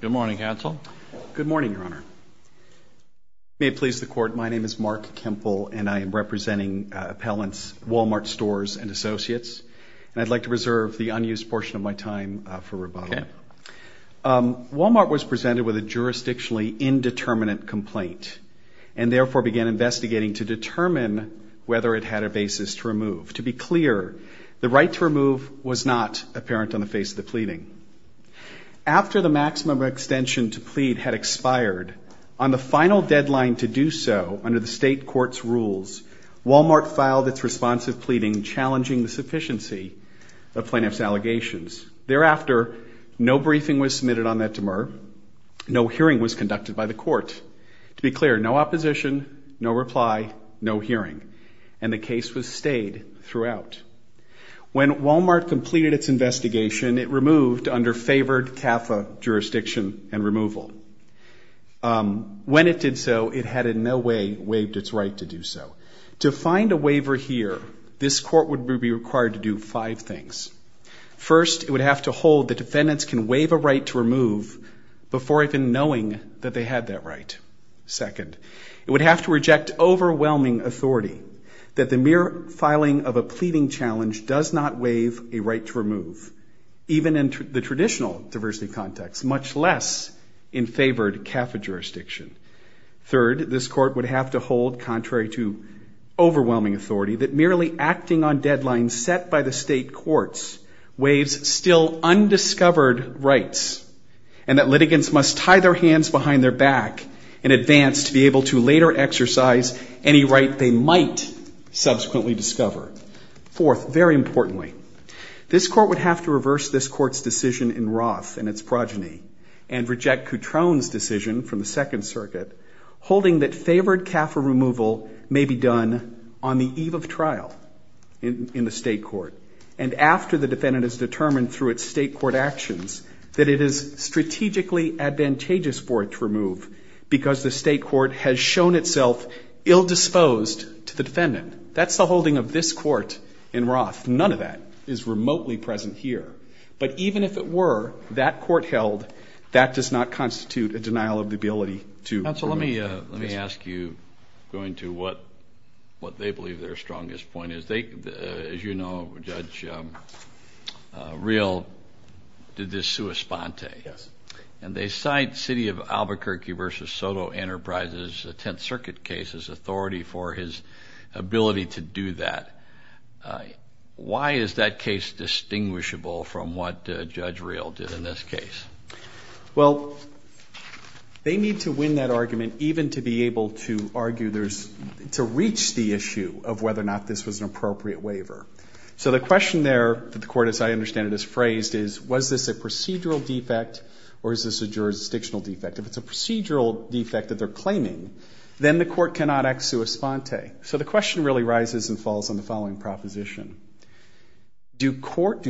Good morning, Counsel. Good morning, Your Honor. May it please the Court, my name is Mark Kempel, and I am representing appellants Wal-Mart Stores and Associates. And I'd like to reserve the unused portion of my time for rebuttal. Okay. Wal-Mart was presented with a jurisdictionally indeterminate complaint to be clear, the right to remove was not apparent on the face of the pleading. After the maximum extension to plead had expired, on the final deadline to do so under the state court's rules, Wal-Mart filed its response of pleading challenging the sufficiency of plaintiff's allegations. Thereafter, no briefing was submitted on that demur. No hearing was conducted by the court. To be clear, no opposition, no reply, no hearing. And the case was stayed throughout. When Wal-Mart completed its investigation, it removed under favored CAFA jurisdiction and removal. When it did so, it had in no way waived its right to do so. To find a waiver here, this court would be required to do five things. First, it would have to hold the defendants can waive a right to remove before even knowing that they had that right. Second, it would have to reject overwhelming authority that the mere filing of a pleading challenge does not waive a right to remove, even in the traditional diversity context, much less in favored CAFA jurisdiction. Third, this court would have to hold, contrary to overwhelming authority, that merely acting on deadlines set by the state courts waives still undiscovered rights and that litigants must tie their hands behind their back in advance to be able to later exercise any right they might subsequently discover. Fourth, very importantly, this court would have to reverse this court's decision in Roth and its progeny and reject Cutrone's decision from the Second Circuit holding that favored CAFA removal may be done on the eve of trial in the state court and after the defendant is determined through its state court actions that it is strategically advantageous for it to remove because the state court has shown itself ill disposed to the defendant. That's the holding of this court in Roth. None of that is remotely present here. But even if it were, that court held, that does not constitute a denial of the ability to remove. Counsel, let me ask you, going to what they believe their strongest point is. As you know, Judge Real did this sua sponte. Yes. And they cite City of Albuquerque v. Soto Enterprises' Tenth Circuit case as authority for his ability to do that. Why is that case distinguishable from what Judge Real did in this case? Well, they need to win that argument even to be able to argue there's to reach the issue of whether or not this was an appropriate waiver. So the question there that the court, as I understand it, has phrased is, was this a procedural defect or is this a jurisdictional defect? If it's a procedural defect that they're claiming, then the court cannot act sua sponte. So the question really rises and falls on the following proposition. Do parties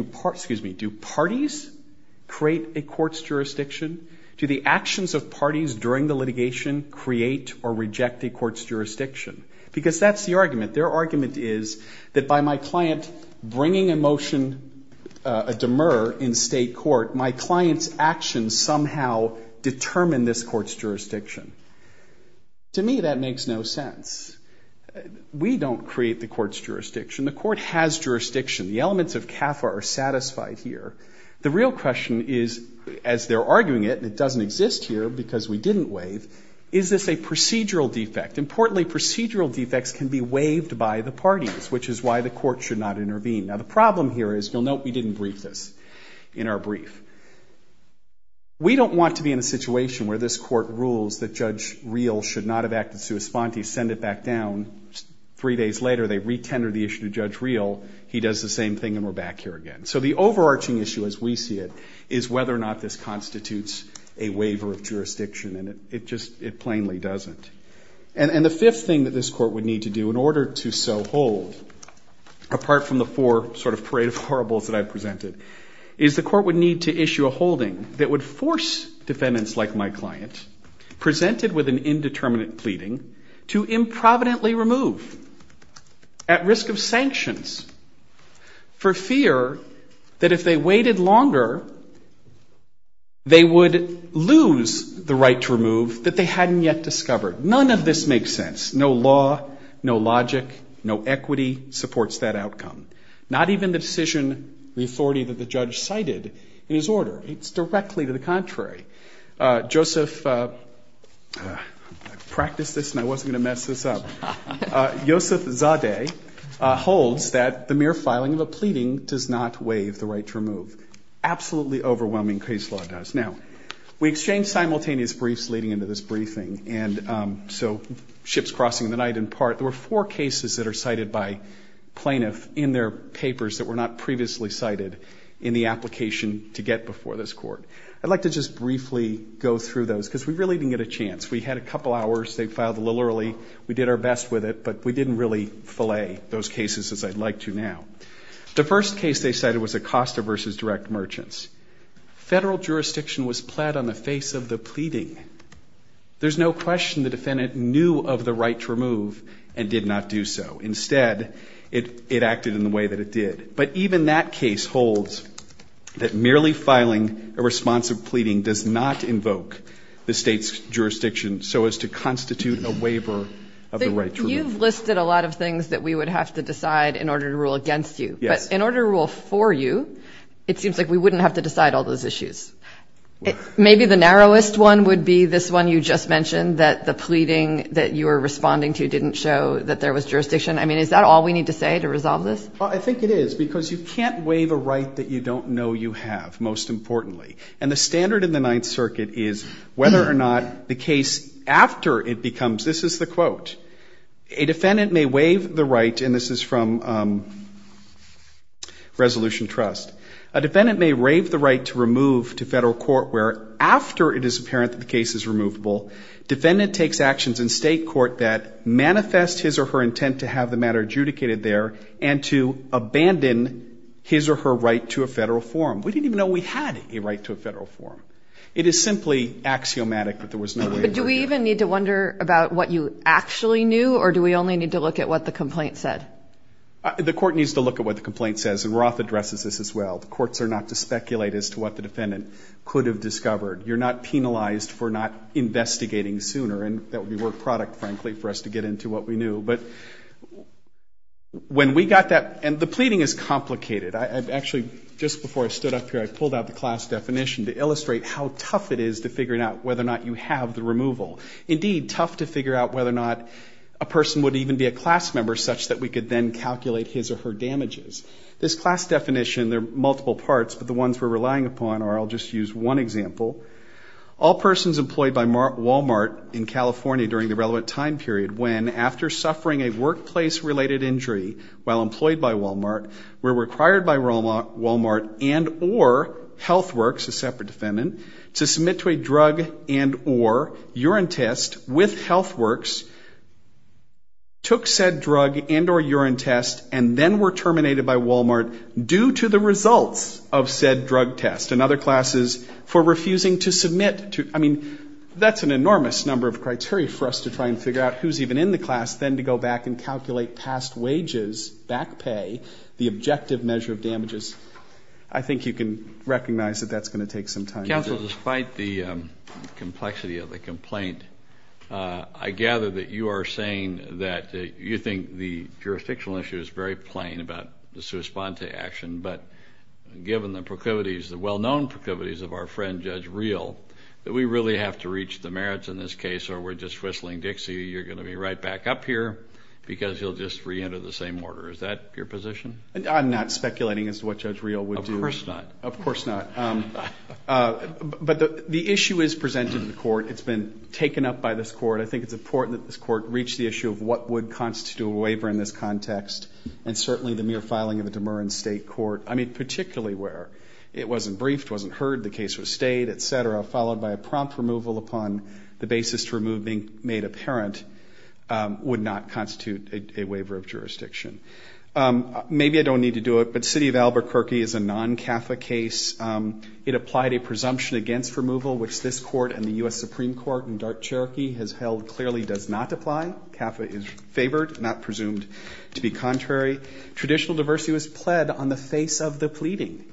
create a court's jurisdiction? Do the actions of parties during the litigation create or reject a court's jurisdiction? Because that's the argument. Their argument is that by my client bringing a motion, a demur in state court, my client's actions somehow determine this court's jurisdiction. To me, that makes no sense. We don't create the court's jurisdiction. The court has jurisdiction. The elements of CAFA are satisfied here. The real question is, as they're arguing it, and it doesn't exist here because we didn't waive, is this a procedural defect? Importantly, procedural defects can be waived by the parties, which is why the court should not intervene. Now, the problem here is, you'll note we didn't brief this in our brief. We don't want to be in a situation where this court rules that Judge Real should not have acted sua sponte, send it back down. Three days later, they retender the issue to Judge Real. He does the same thing, and we're back here again. So the overarching issue, as we see it, is whether or not this constitutes a waiver of jurisdiction, and it just plainly doesn't. And the fifth thing that this court would need to do in order to so hold, apart from the four sort of parade of horribles that I've presented, is the court would need to issue a holding that would force defendants like my client, presented with an indeterminate pleading, to improvidently remove at risk of sanctions for fear that if they waited longer, they would lose the right to remove that they hadn't yet discovered. None of this makes sense. No law, no logic, no equity supports that outcome. Not even the decision, the authority that the judge cited in his order. It's directly to the contrary. Joseph, I practiced this and I wasn't going to mess this up. Yosef Zadeh holds that the mere filing of a pleading does not waive the right to remove. Absolutely overwhelming case law does. Now, we exchanged simultaneous briefs leading into this briefing, and so ships crossing the night in part. There were four cases that are cited by plaintiffs in their papers that were not previously cited in the application to get before this court. I'd like to just briefly go through those because we really didn't get a chance. We had a couple hours. They filed a little early. We did our best with it, but we didn't really fillet those cases as I'd like to now. The first case they cited was Acosta v. Direct Merchants. Federal jurisdiction was pled on the face of the pleading. There's no question the defendant knew of the right to remove and did not do so. Instead, it acted in the way that it did. But even that case holds that merely filing a responsive pleading does not invoke the state's jurisdiction so as to constitute a waiver of the right to remove. You've listed a lot of things that we would have to decide in order to rule against you. Yes. But in order to rule for you, it seems like we wouldn't have to decide all those issues. Maybe the narrowest one would be this one you just mentioned, that the pleading that you were responding to didn't show that there was jurisdiction. I mean, is that all we need to say to resolve this? Well, I think it is because you can't waive a right that you don't know you have, most importantly. And the standard in the Ninth Circuit is whether or not the case after it becomes, this is the quote, a defendant may waive the right, and this is from Resolution Trust, a defendant may waive the right to remove to federal court where after it is apparent that the case is removable, defendant takes actions in state court that manifest his or her intent to have the matter adjudicated there and to abandon his or her right to a federal forum. We didn't even know we had a right to a federal forum. It is simply axiomatic that there was no waiver. But do we even need to wonder about what you actually knew, or do we only need to look at what the complaint said? The court needs to look at what the complaint says, and Roth addresses this as well. The courts are not to speculate as to what the defendant could have discovered. You're not penalized for not investigating sooner, and that would be work product, frankly, for us to get into what we knew. But when we got that, and the pleading is complicated. Actually, just before I stood up here, I pulled out the class definition to illustrate how tough it is to figure out whether or not you have the removal. Indeed, tough to figure out whether or not a person would even be a class member such that we could then calculate his or her damages. This class definition, there are multiple parts, but the ones we're relying upon are, I'll just use one example, all persons employed by Wal-Mart in California during the relevant time period when, after suffering a workplace-related injury while employed by Wal-Mart, were required by Wal-Mart and or Health Works, a separate defendant, to submit to a drug and or urine test with Health Works, took said drug and or urine test and then were terminated by Wal-Mart due to the results of said drug test. And other classes for refusing to submit to, I mean, that's an enormous number of criteria for us to try and figure out who's even in the class, then to go back and calculate past wages, back pay, the objective measure of damages. I think you can recognize that that's going to take some time. Counsel, despite the complexity of the complaint, I gather that you are saying that you think the jurisdictional issue is very plain about the sua sponte action, but given the proclivities, the well-known proclivities of our friend Judge Reel, that we really have to reach the merits in this case or we're just whistling Dixie, you're going to be right back up here because you'll just reenter the same order. Is that your position? I'm not speculating as to what Judge Reel would do. Of course not. Of course not. But the issue is presented to the court. It's been taken up by this court. I think it's important that this court reach the issue of what would constitute a waiver in this context and certainly the mere filing of a Demer and state court, I mean, particularly where it wasn't briefed, wasn't heard, the case was stayed, et cetera, followed by a prompt removal upon the basis to remove being made apparent would not constitute a waiver of jurisdiction. Maybe I don't need to do it, but City of Albuquerque is a non-CAFA case. It applied a presumption against removal, which this court and the U.S. Supreme Court in dark Cherokee has held clearly does not apply. CAFA is favored, not presumed to be contrary. Traditional diversity was pled on the face of the pleading,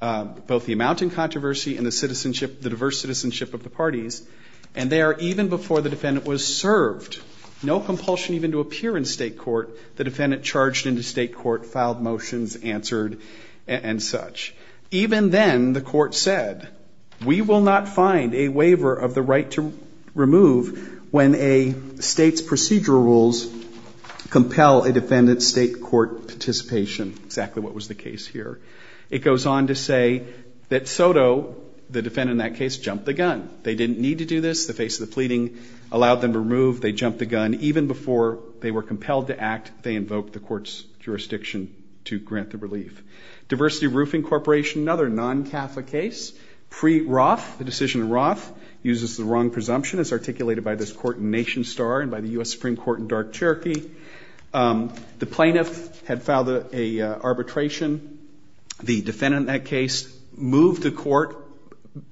both the amount in controversy and the diverse citizenship of the parties. And there, even before the defendant was served, no compulsion even to appear in state court, the defendant charged into state court, filed motions, answered, and such. Even then, the court said, we will not find a waiver of the right to remove when a state's procedural rules compel a defendant's state court participation, exactly what was the case here. It goes on to say that Soto, the defendant in that case, jumped the gun. They didn't need to do this. The face of the pleading allowed them to remove. They jumped the gun. Even before they were compelled to act, they invoked the court's jurisdiction to grant the relief. Diversity Roofing Corporation, another non-CAFA case, pre-Roth, the decision in Roth uses the wrong presumption as articulated by this court in Nation Star and by the U.S. Supreme Court in dark Cherokee. The plaintiff had filed an arbitration. The defendant in that case moved the court.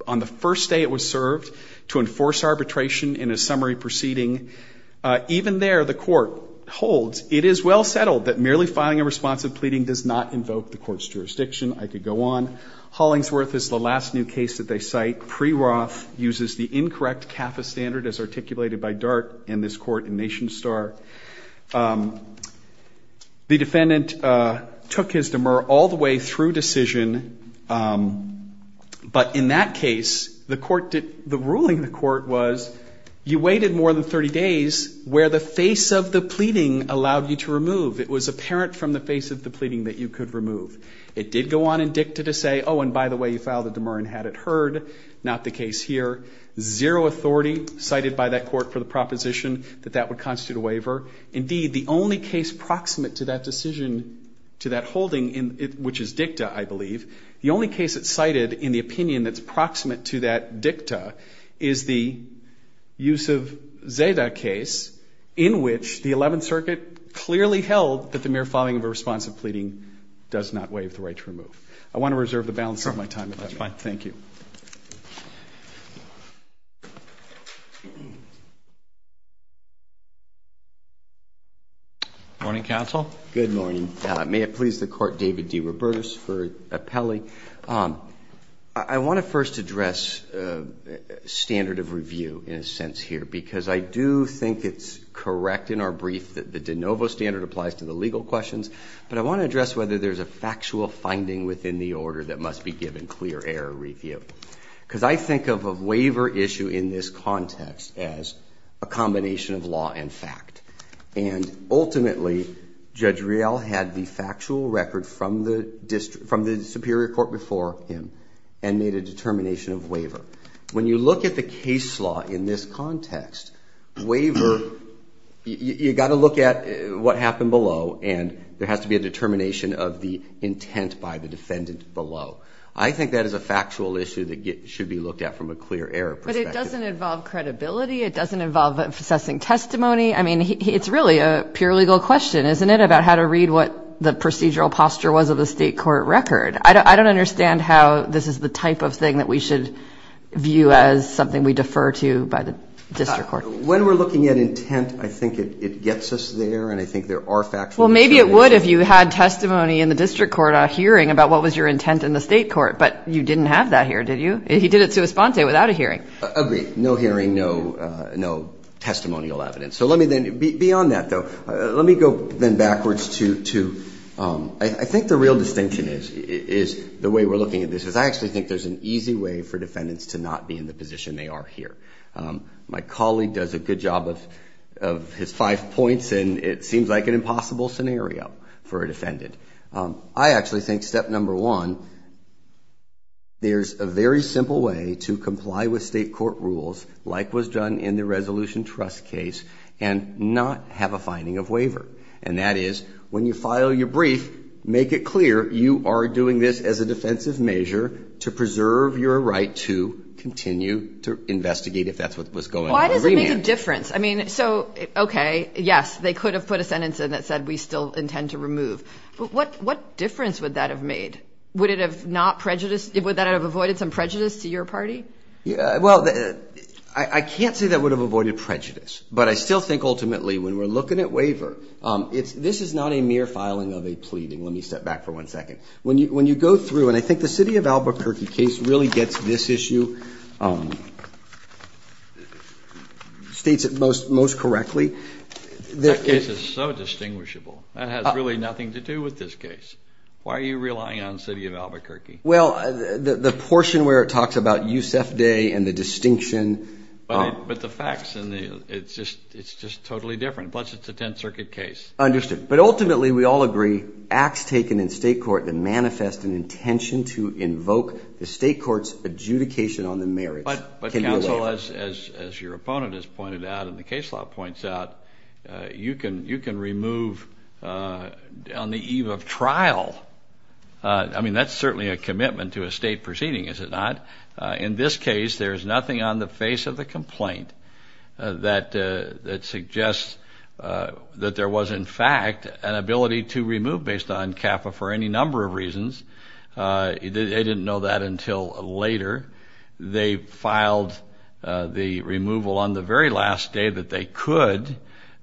On the first day, it was served to enforce arbitration in a summary proceeding. Even there, the court holds, it is well settled that merely filing a responsive pleading does not invoke the court's jurisdiction. I could go on. Hollingsworth is the last new case that they cite. Pre-Roth uses the incorrect CAFA standard as articulated by Dart in this court in Nation Star. The defendant took his demur all the way through decision, but in that case, the ruling of the court was, you waited more than 30 days where the face of the pleading allowed you to remove. It was apparent from the face of the pleading that you could remove. It did go on in dicta to say, oh, and by the way, you filed a demur and had it heard. Not the case here. Zero authority cited by that court for the proposition that that would constitute a waiver. Indeed, the only case proximate to that decision, to that holding, which is dicta, I believe, the only case that's cited in the opinion that's proximate to that dicta is the use of Zeda case, in which the 11th Circuit clearly held that the mere filing of a responsive pleading does not waive the right to remove. I want to reserve the balance of my time. That's fine. Thank you. Morning, counsel. Good morning. May it please the court, David D. Robertus for appellee. I want to first address standard of review in a sense here, because I do think it's correct in our brief that the de novo standard applies to the legal questions, but I want to address whether there's a factual finding within the order that must be given clear error review, because I think of a waiver issue in this context as a combination of law and fact, and ultimately Judge Rial had the factual record from the Superior Court before him and made a determination of waiver. When you look at the case law in this context, waiver, you've got to look at what happened below, and there has to be a determination of the intent by the defendant below. I think that is a factual issue that should be looked at from a clear error perspective. But it doesn't involve credibility. It doesn't involve assessing testimony. I mean, it's really a pure legal question, isn't it, about how to read what the procedural posture was of the state court record. I don't understand how this is the type of thing that we should view as something we defer to by the district court. When we're looking at intent, I think it gets us there, and I think there are factual examples. Well, maybe it would if you had testimony in the district court hearing about what was your intent in the state court, but you didn't have that here, did you? He did it sua sponte, without a hearing. Agreed. No hearing, no testimonial evidence. Beyond that, though, let me go then backwards to I think the real distinction is the way we're looking at this, because I actually think there's an easy way for defendants to not be in the position they are here. My colleague does a good job of his five points, and it seems like an impossible scenario for a defendant. I actually think step number one, there's a very simple way to comply with state court rules, like was done in the Resolution Trust case, and not have a finding of waiver, and that is when you file your brief, make it clear you are doing this as a defensive measure to preserve your right to continue to investigate if that's what was going on. Why does it make a difference? I mean, so, okay, yes, they could have put a sentence in that said we still intend to remove, but what difference would that have made? Would that have avoided some prejudice to your party? Well, I can't say that would have avoided prejudice, but I still think ultimately when we're looking at waiver, this is not a mere filing of a pleading. Let me step back for one second. When you go through, and I think the City of Albuquerque case really gets this issue, states it most correctly. That case is so distinguishable. That has really nothing to do with this case. Why are you relying on City of Albuquerque? Well, the portion where it talks about Yusef Day and the distinction. But the facts, it's just totally different, plus it's a Tenth Circuit case. Understood. But ultimately we all agree acts taken in state court that manifest an intention to invoke the state court's adjudication on the marriage. But counsel, as your opponent has pointed out and the case law points out, you can remove on the eve of trial. I mean, that's certainly a commitment to a state proceeding, is it not? In this case, there's nothing on the face of the complaint that suggests that there was, in fact, an ability to remove based on CAFA for any number of reasons. They didn't know that until later. They filed the removal on the very last day that they could.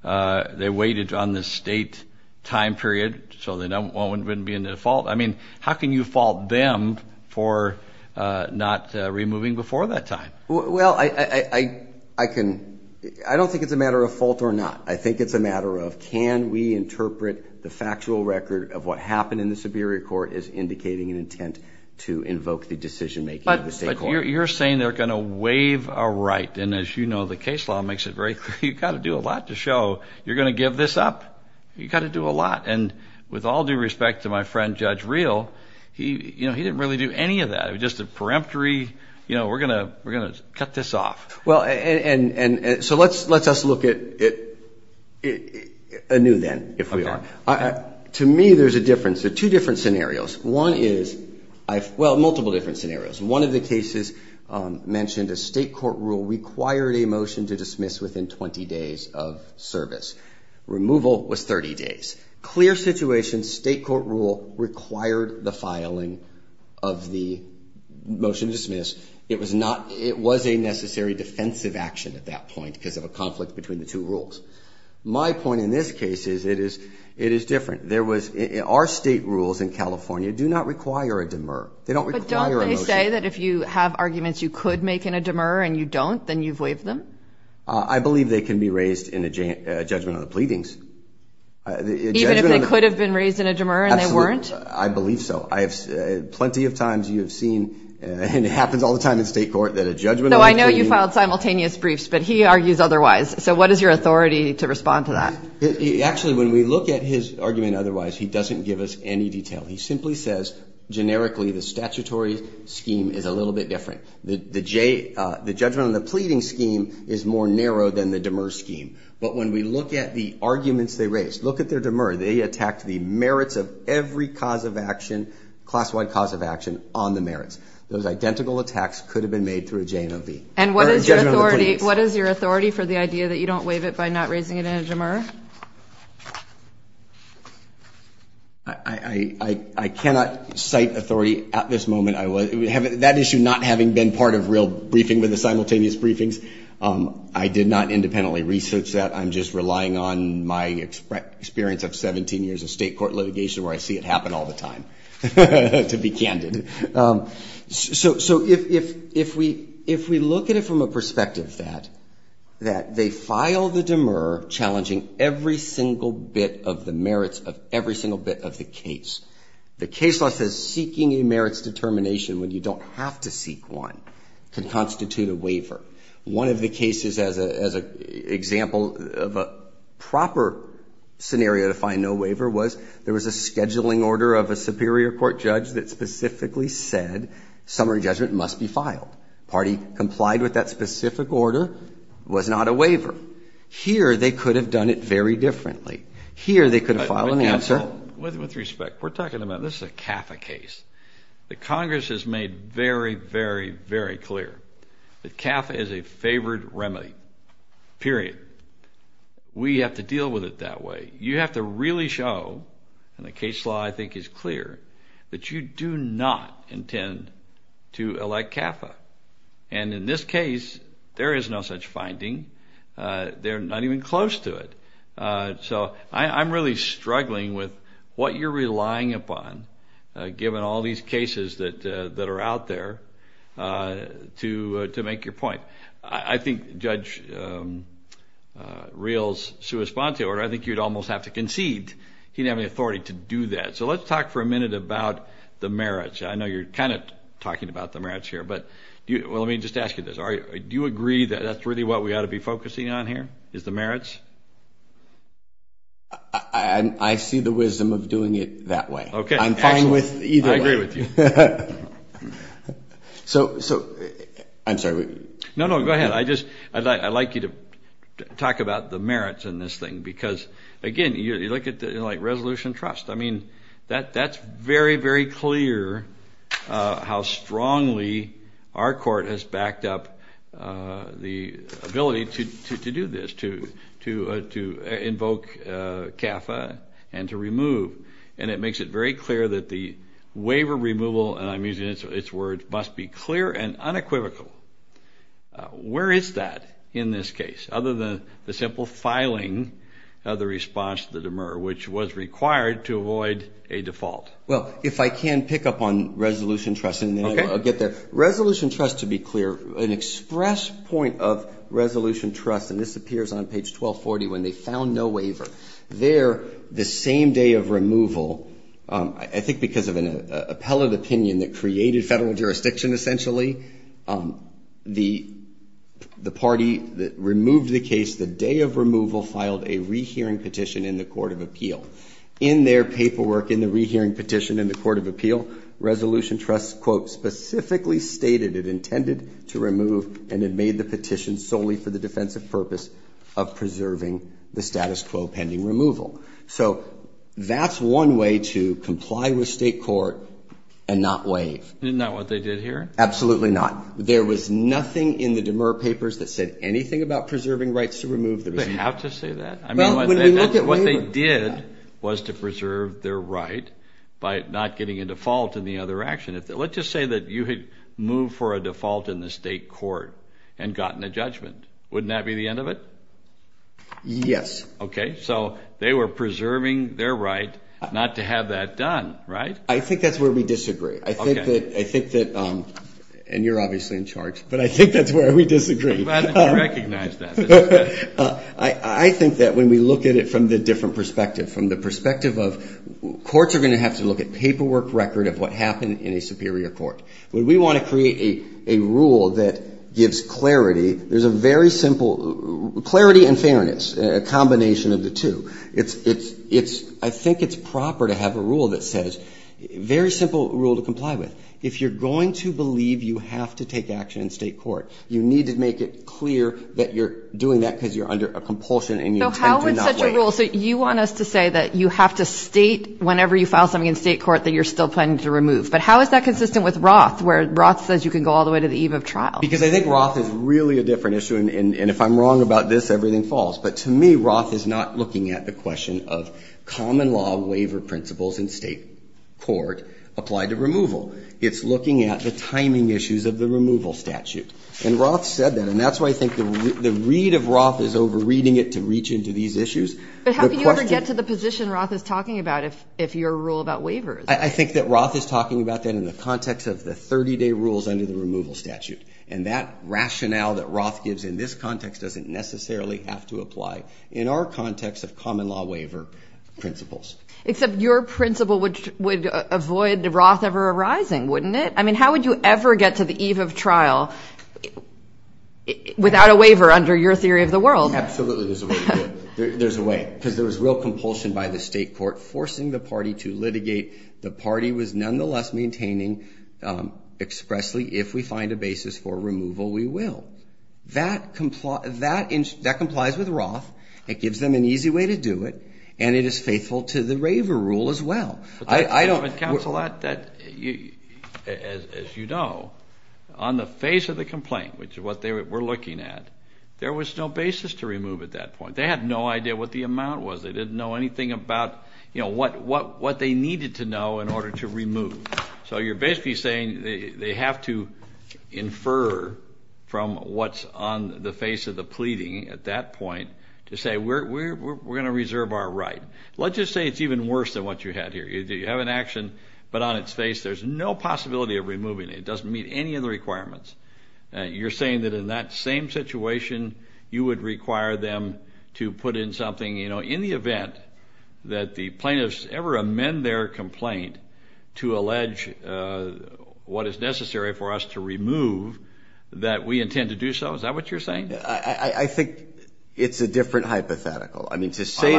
They waited on the state time period, so it wouldn't be a default. I mean, how can you fault them for not removing before that time? Well, I don't think it's a matter of fault or not. I think it's a matter of can we interpret the factual record of what happened in the Superior Court as indicating an intent to invoke the decision-making of the state court. But you're saying they're going to waive a right. And as you know, the case law makes it very clear you've got to do a lot to show you're going to give this up. You've got to do a lot. And with all due respect to my friend Judge Real, he didn't really do any of that. It was just a peremptory, you know, we're going to cut this off. Well, and so let's us look at a new then, if we are. To me, there's a difference. There are two different scenarios. One is, well, multiple different scenarios. One of the cases mentioned a state court rule required a motion to dismiss within 20 days of service. Removal was 30 days. Clear situation, state court rule required the filing of the motion to dismiss. It was not, it was a necessary defensive action at that point because of a conflict between the two rules. My point in this case is it is different. There was, our state rules in California do not require a demur. They don't require a motion. But don't they say that if you have arguments you could make in a demur and you don't, then you've waived them? I believe they can be raised in a judgment of the pleadings. Even if they could have been raised in a demur and they weren't? Absolutely. I believe so. Plenty of times you have seen, and it happens all the time in state court, that a judgment of the pleadings. No, I know you filed simultaneous briefs, but he argues otherwise. So what is your authority to respond to that? Actually, when we look at his argument otherwise, he doesn't give us any detail. He simply says, generically, the statutory scheme is a little bit different. The judgment of the pleading scheme is more narrow than the demur scheme. But when we look at the arguments they raised, look at their demur. They attacked the merits of every cause of action, class-wide cause of action, on the merits. Those identical attacks could have been made through a JNOV. And what is your authority for the idea that you don't waive it by not raising it in a demur? I cannot cite authority at this moment. That issue not having been part of real briefing with the simultaneous briefings, I did not independently research that. I'm just relying on my experience of 17 years of state court litigation where I see it happen all the time, to be candid. So if we look at it from a perspective that they file the demur challenging every single bit of the merits of every single bit of the case. The case law says seeking a merits determination when you don't have to seek one can constitute a waiver. One of the cases as an example of a proper scenario to find no waiver was there was a scheduling order of a superior court judge that specifically said summary judgment must be filed. Party complied with that specific order, was not a waiver. Here they could have done it very differently. Here they could have filed an answer. With respect, we're talking about this is a CAFA case. The Congress has made very, very, very clear that CAFA is a favored remedy, period. We have to deal with it that way. You have to really show, and the case law I think is clear, that you do not intend to elect CAFA. And in this case, there is no such finding. They're not even close to it. So I'm really struggling with what you're relying upon, given all these cases that are out there, to make your point. I think Judge Real's sui sponte order, I think you'd almost have to concede he didn't have any authority to do that. So let's talk for a minute about the merits. I know you're kind of talking about the merits here, but let me just ask you this. Do you agree that that's really what we ought to be focusing on here, is the merits? I see the wisdom of doing it that way. I'm fine with either way. I agree with you. So, I'm sorry. No, no, go ahead. I'd like you to talk about the merits in this thing, because, again, you look at it like resolution trust. I mean, that's very, very clear how strongly our court has backed up the ability to do this, to invoke CAFA and to remove. And it makes it very clear that the waiver removal, and I'm using its words, must be clear and unequivocal. Where is that in this case, other than the simple filing of the response to the demur, which was required to avoid a default? Well, if I can pick up on resolution trust, and then I'll get there. Okay. Resolution trust, to be clear, an express point of resolution trust, and this appears on page 1240 when they found no waiver. There, the same day of removal, I think because of an appellate opinion that created federal jurisdiction, essentially, the party that removed the case, the day of removal, filed a rehearing petition in the court of appeal. In their paperwork in the rehearing petition in the court of appeal, resolution trust, quote, stated it intended to remove, and it made the petition solely for the defensive purpose of preserving the status quo pending removal. So that's one way to comply with state court and not waive. Isn't that what they did here? Absolutely not. There was nothing in the demur papers that said anything about preserving rights to remove. Do they have to say that? I mean, what they did was to preserve their right by not getting a default in the other action. Let's just say that you had moved for a default in the state court and gotten a judgment. Wouldn't that be the end of it? Yes. Okay. So they were preserving their right not to have that done, right? I think that's where we disagree. Okay. I think that, and you're obviously in charge, but I think that's where we disagree. Glad that you recognized that. I think that when we look at it from the different perspective, from the perspective of courts are going to have to look at paperwork record of what happened in a superior court. When we want to create a rule that gives clarity, there's a very simple, clarity and fairness, a combination of the two. It's, I think it's proper to have a rule that says, very simple rule to comply with. If you're going to believe you have to take action in state court, you need to make it clear that you're doing that because you're under a compulsion and you intend to not do it. But how is that consistent with Roth, where Roth says you can go all the way to the eve of trial? Because I think Roth is really a different issue. And if I'm wrong about this, everything falls. But to me, Roth is not looking at the question of common law waiver principles in state court applied to removal. It's looking at the timing issues of the removal statute. And Roth said that. And that's why I think the read of Roth is over reading it to reach into these issues. But how can you ever get to the position Roth is talking about if you're a rule about waivers? I think that Roth is talking about that in the context of the 30-day rules under the removal statute. And that rationale that Roth gives in this context doesn't necessarily have to apply in our context of common law waiver principles. Except your principle would avoid Roth ever arising, wouldn't it? I mean, how would you ever get to the eve of trial without a waiver under your theory of the world? The party was nonetheless maintaining expressly, if we find a basis for removal, we will. That complies with Roth. It gives them an easy way to do it. And it is faithful to the waiver rule as well. I don't. But, Counsel, as you know, on the face of the complaint, which is what they were looking at, there was no basis to remove at that point. They had no idea what the amount was. They didn't know anything about, you know, what they needed to know in order to remove. So you're basically saying they have to infer from what's on the face of the pleading at that point to say we're going to reserve our right. Let's just say it's even worse than what you had here. You have an action, but on its face there's no possibility of removing it. It doesn't meet any of the requirements. You're saying that in that same situation you would require them to put in something, you know, in the event that the plaintiffs ever amend their complaint to allege what is necessary for us to remove, that we intend to do so? Is that what you're saying? I think it's a different hypothetical. But to say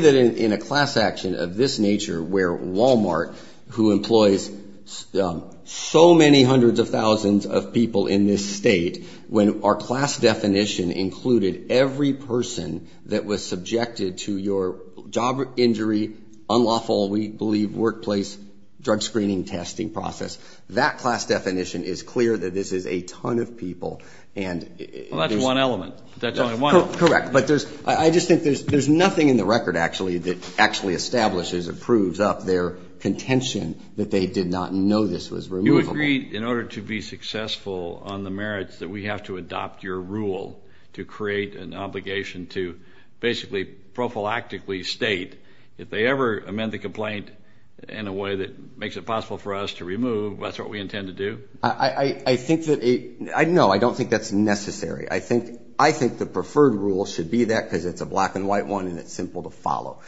that in a class action of this nature where Walmart, who employs so many hundreds of thousands of people in this state, when our class definition included every person that was subjected to your job injury, unlawful, we believe, workplace drug screening testing process, that class definition is clear that this is a ton of people. Well, that's one element. Correct. But I just think there's nothing in the record actually that actually establishes or proves up their contention that they did not know this was removable. You agreed in order to be successful on the merits that we have to adopt your rule to create an obligation to basically prophylactically state if they ever amend the complaint in a way that makes it possible for us to remove, that's what we intend to do? I think that no, I don't think that's necessary. I think the preferred rule should be that because it's a black and white one and it's simple to follow.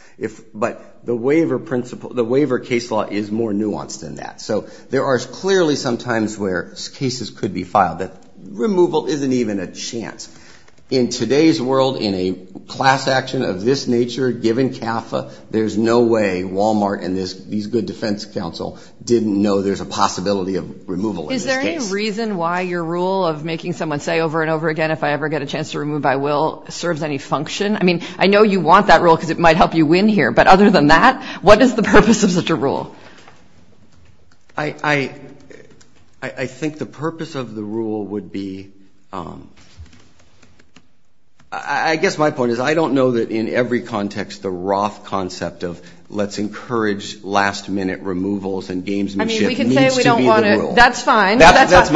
But the waiver principle, the waiver case law is more nuanced than that. So there are clearly sometimes where cases could be filed that removal isn't even a chance. In today's world, in a class action of this nature, given CAFA, there's no way Walmart and these good defense counsel didn't know there's a possibility of removal in this case. Is there a reason why your rule of making someone say over and over again if I ever get a chance to remove my will serves any function? I mean, I know you want that rule because it might help you win here. But other than that, what is the purpose of such a rule? I think the purpose of the rule would be, I guess my point is I don't know that in every context the Roth concept of let's encourage last minute removals and gamesmanship needs to be the rule. That's fine. That's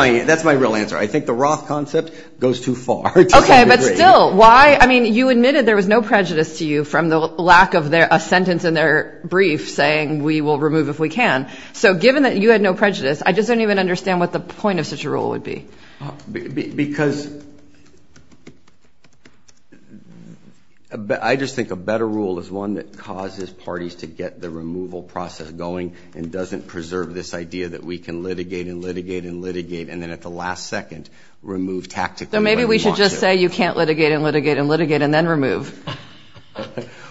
my real answer. I think the Roth concept goes too far. Okay. But still, why? I mean, you admitted there was no prejudice to you from the lack of a sentence in their brief saying we will remove if we can. So given that you had no prejudice, I just don't even understand what the point of such a rule would be. Because I just think a better rule is one that causes parties to get the removal process going and doesn't preserve this idea that we can litigate and litigate and litigate and then at the last second remove tactically. So maybe we should just say you can't litigate and litigate and litigate and then remove.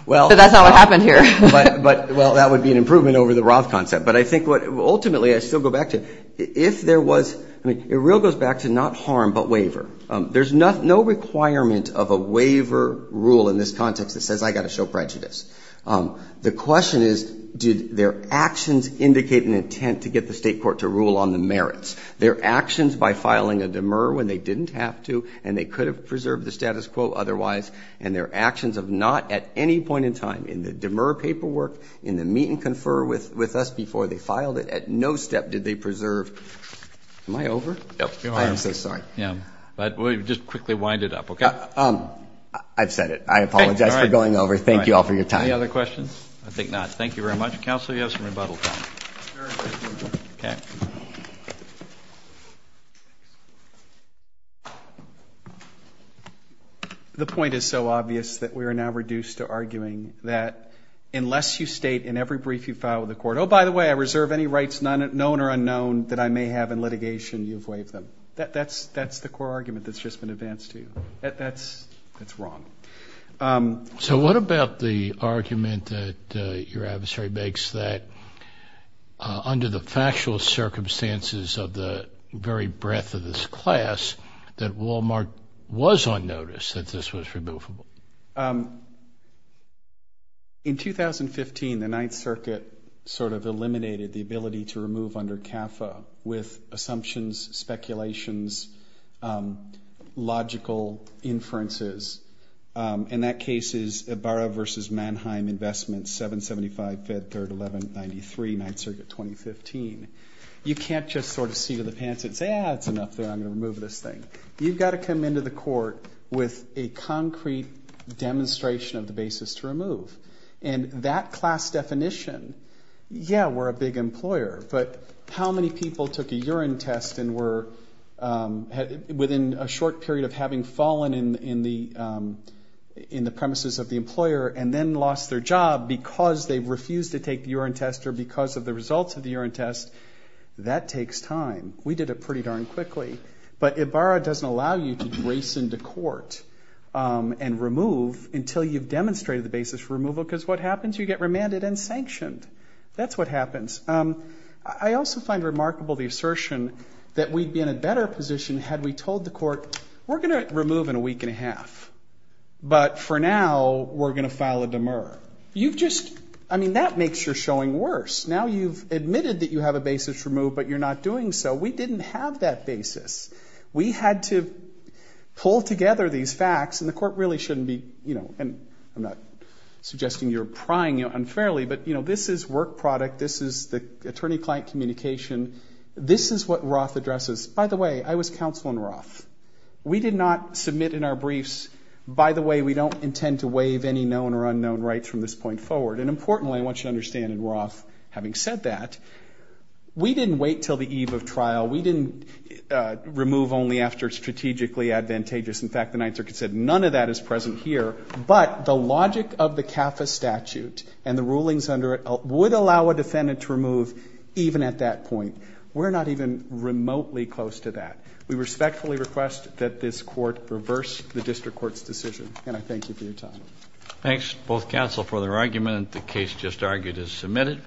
Well. That's not what happened here. Well, that would be an improvement over the Roth concept. But I think ultimately I still go back to if there was, I mean, it really goes back to not harm but waiver. There's no requirement of a waiver rule in this context that says I've got to show prejudice. The question is, did their actions indicate an intent to get the state court to rule on the merits? Their actions by filing a demur when they didn't have to and they could have preserved the status quo otherwise, and their actions of not at any point in time in the demur paperwork, in the meet and confer with us before they filed it, at no step did they preserve. Am I over? Yes, you are. I am so sorry. Yeah. But we'll just quickly wind it up, okay? I've said it. I apologize for going over. Thank you all for your time. Any other questions? I think not. Thank you very much. Counsel, you have some rebuttal time. Okay. The point is so obvious that we are now reduced to arguing that unless you state in every brief you file with the court, oh, by the way, I reserve any rights, known or unknown, that I may have in litigation, you've waived them. That's the core argument that's just been advanced to you. That's wrong. So what about the argument that your adversary makes that under the factual circumstances of the very breadth of this class that Walmart was on notice that this was removable? In 2015, the Ninth Circuit sort of eliminated the ability to remove under CAFA with assumptions, speculations, logical inferences. And that case is Ibarra v. Mannheim Investments, 775, 5th, 3rd, 1193, Ninth Circuit, 2015. You can't just sort of see to the pants and say, ah, it's enough there. I'm going to remove this thing. You've got to come into the court with a concrete demonstration of the basis to remove. And that class definition, yeah, we're a big employer. But how many people took a urine test and were within a short period of having fallen in the premises of the employer and then lost their job because they refused to take the urine test or because of the results of the urine test? That takes time. We did it pretty darn quickly. But Ibarra doesn't allow you to grace into court and remove until you've demonstrated the basis for removal because what happens? You get remanded and sanctioned. That's what happens. I also find remarkable the assertion that we'd be in a better position had we told the court, we're going to remove in a week and a half, but for now we're going to file a demur. You've just, I mean, that makes your showing worse. Now you've admitted that you have a basis to remove, but you're not doing so. We didn't have that basis. We had to pull together these facts, and the court really shouldn't be, you know, and I'm not suggesting you're prying unfairly, but, you know, this is work product. This is the attorney-client communication. This is what Roth addresses. By the way, I was counsel in Roth. We did not submit in our briefs, by the way, we don't intend to waive any known or unknown rights from this point forward. And importantly, I want you to understand in Roth, having said that, we didn't wait until the eve of trial. We didn't remove only after it's strategically advantageous. In fact, the Ninth Circuit said none of that is present here, but the logic of the CAFA statute and the rulings under it would allow a defendant to remove even at that point. We're not even remotely close to that. We respectfully request that this court reverse the district court's decision, and I thank you for your time. Thanks, both counsel, for the argument. The case just argued is submitted.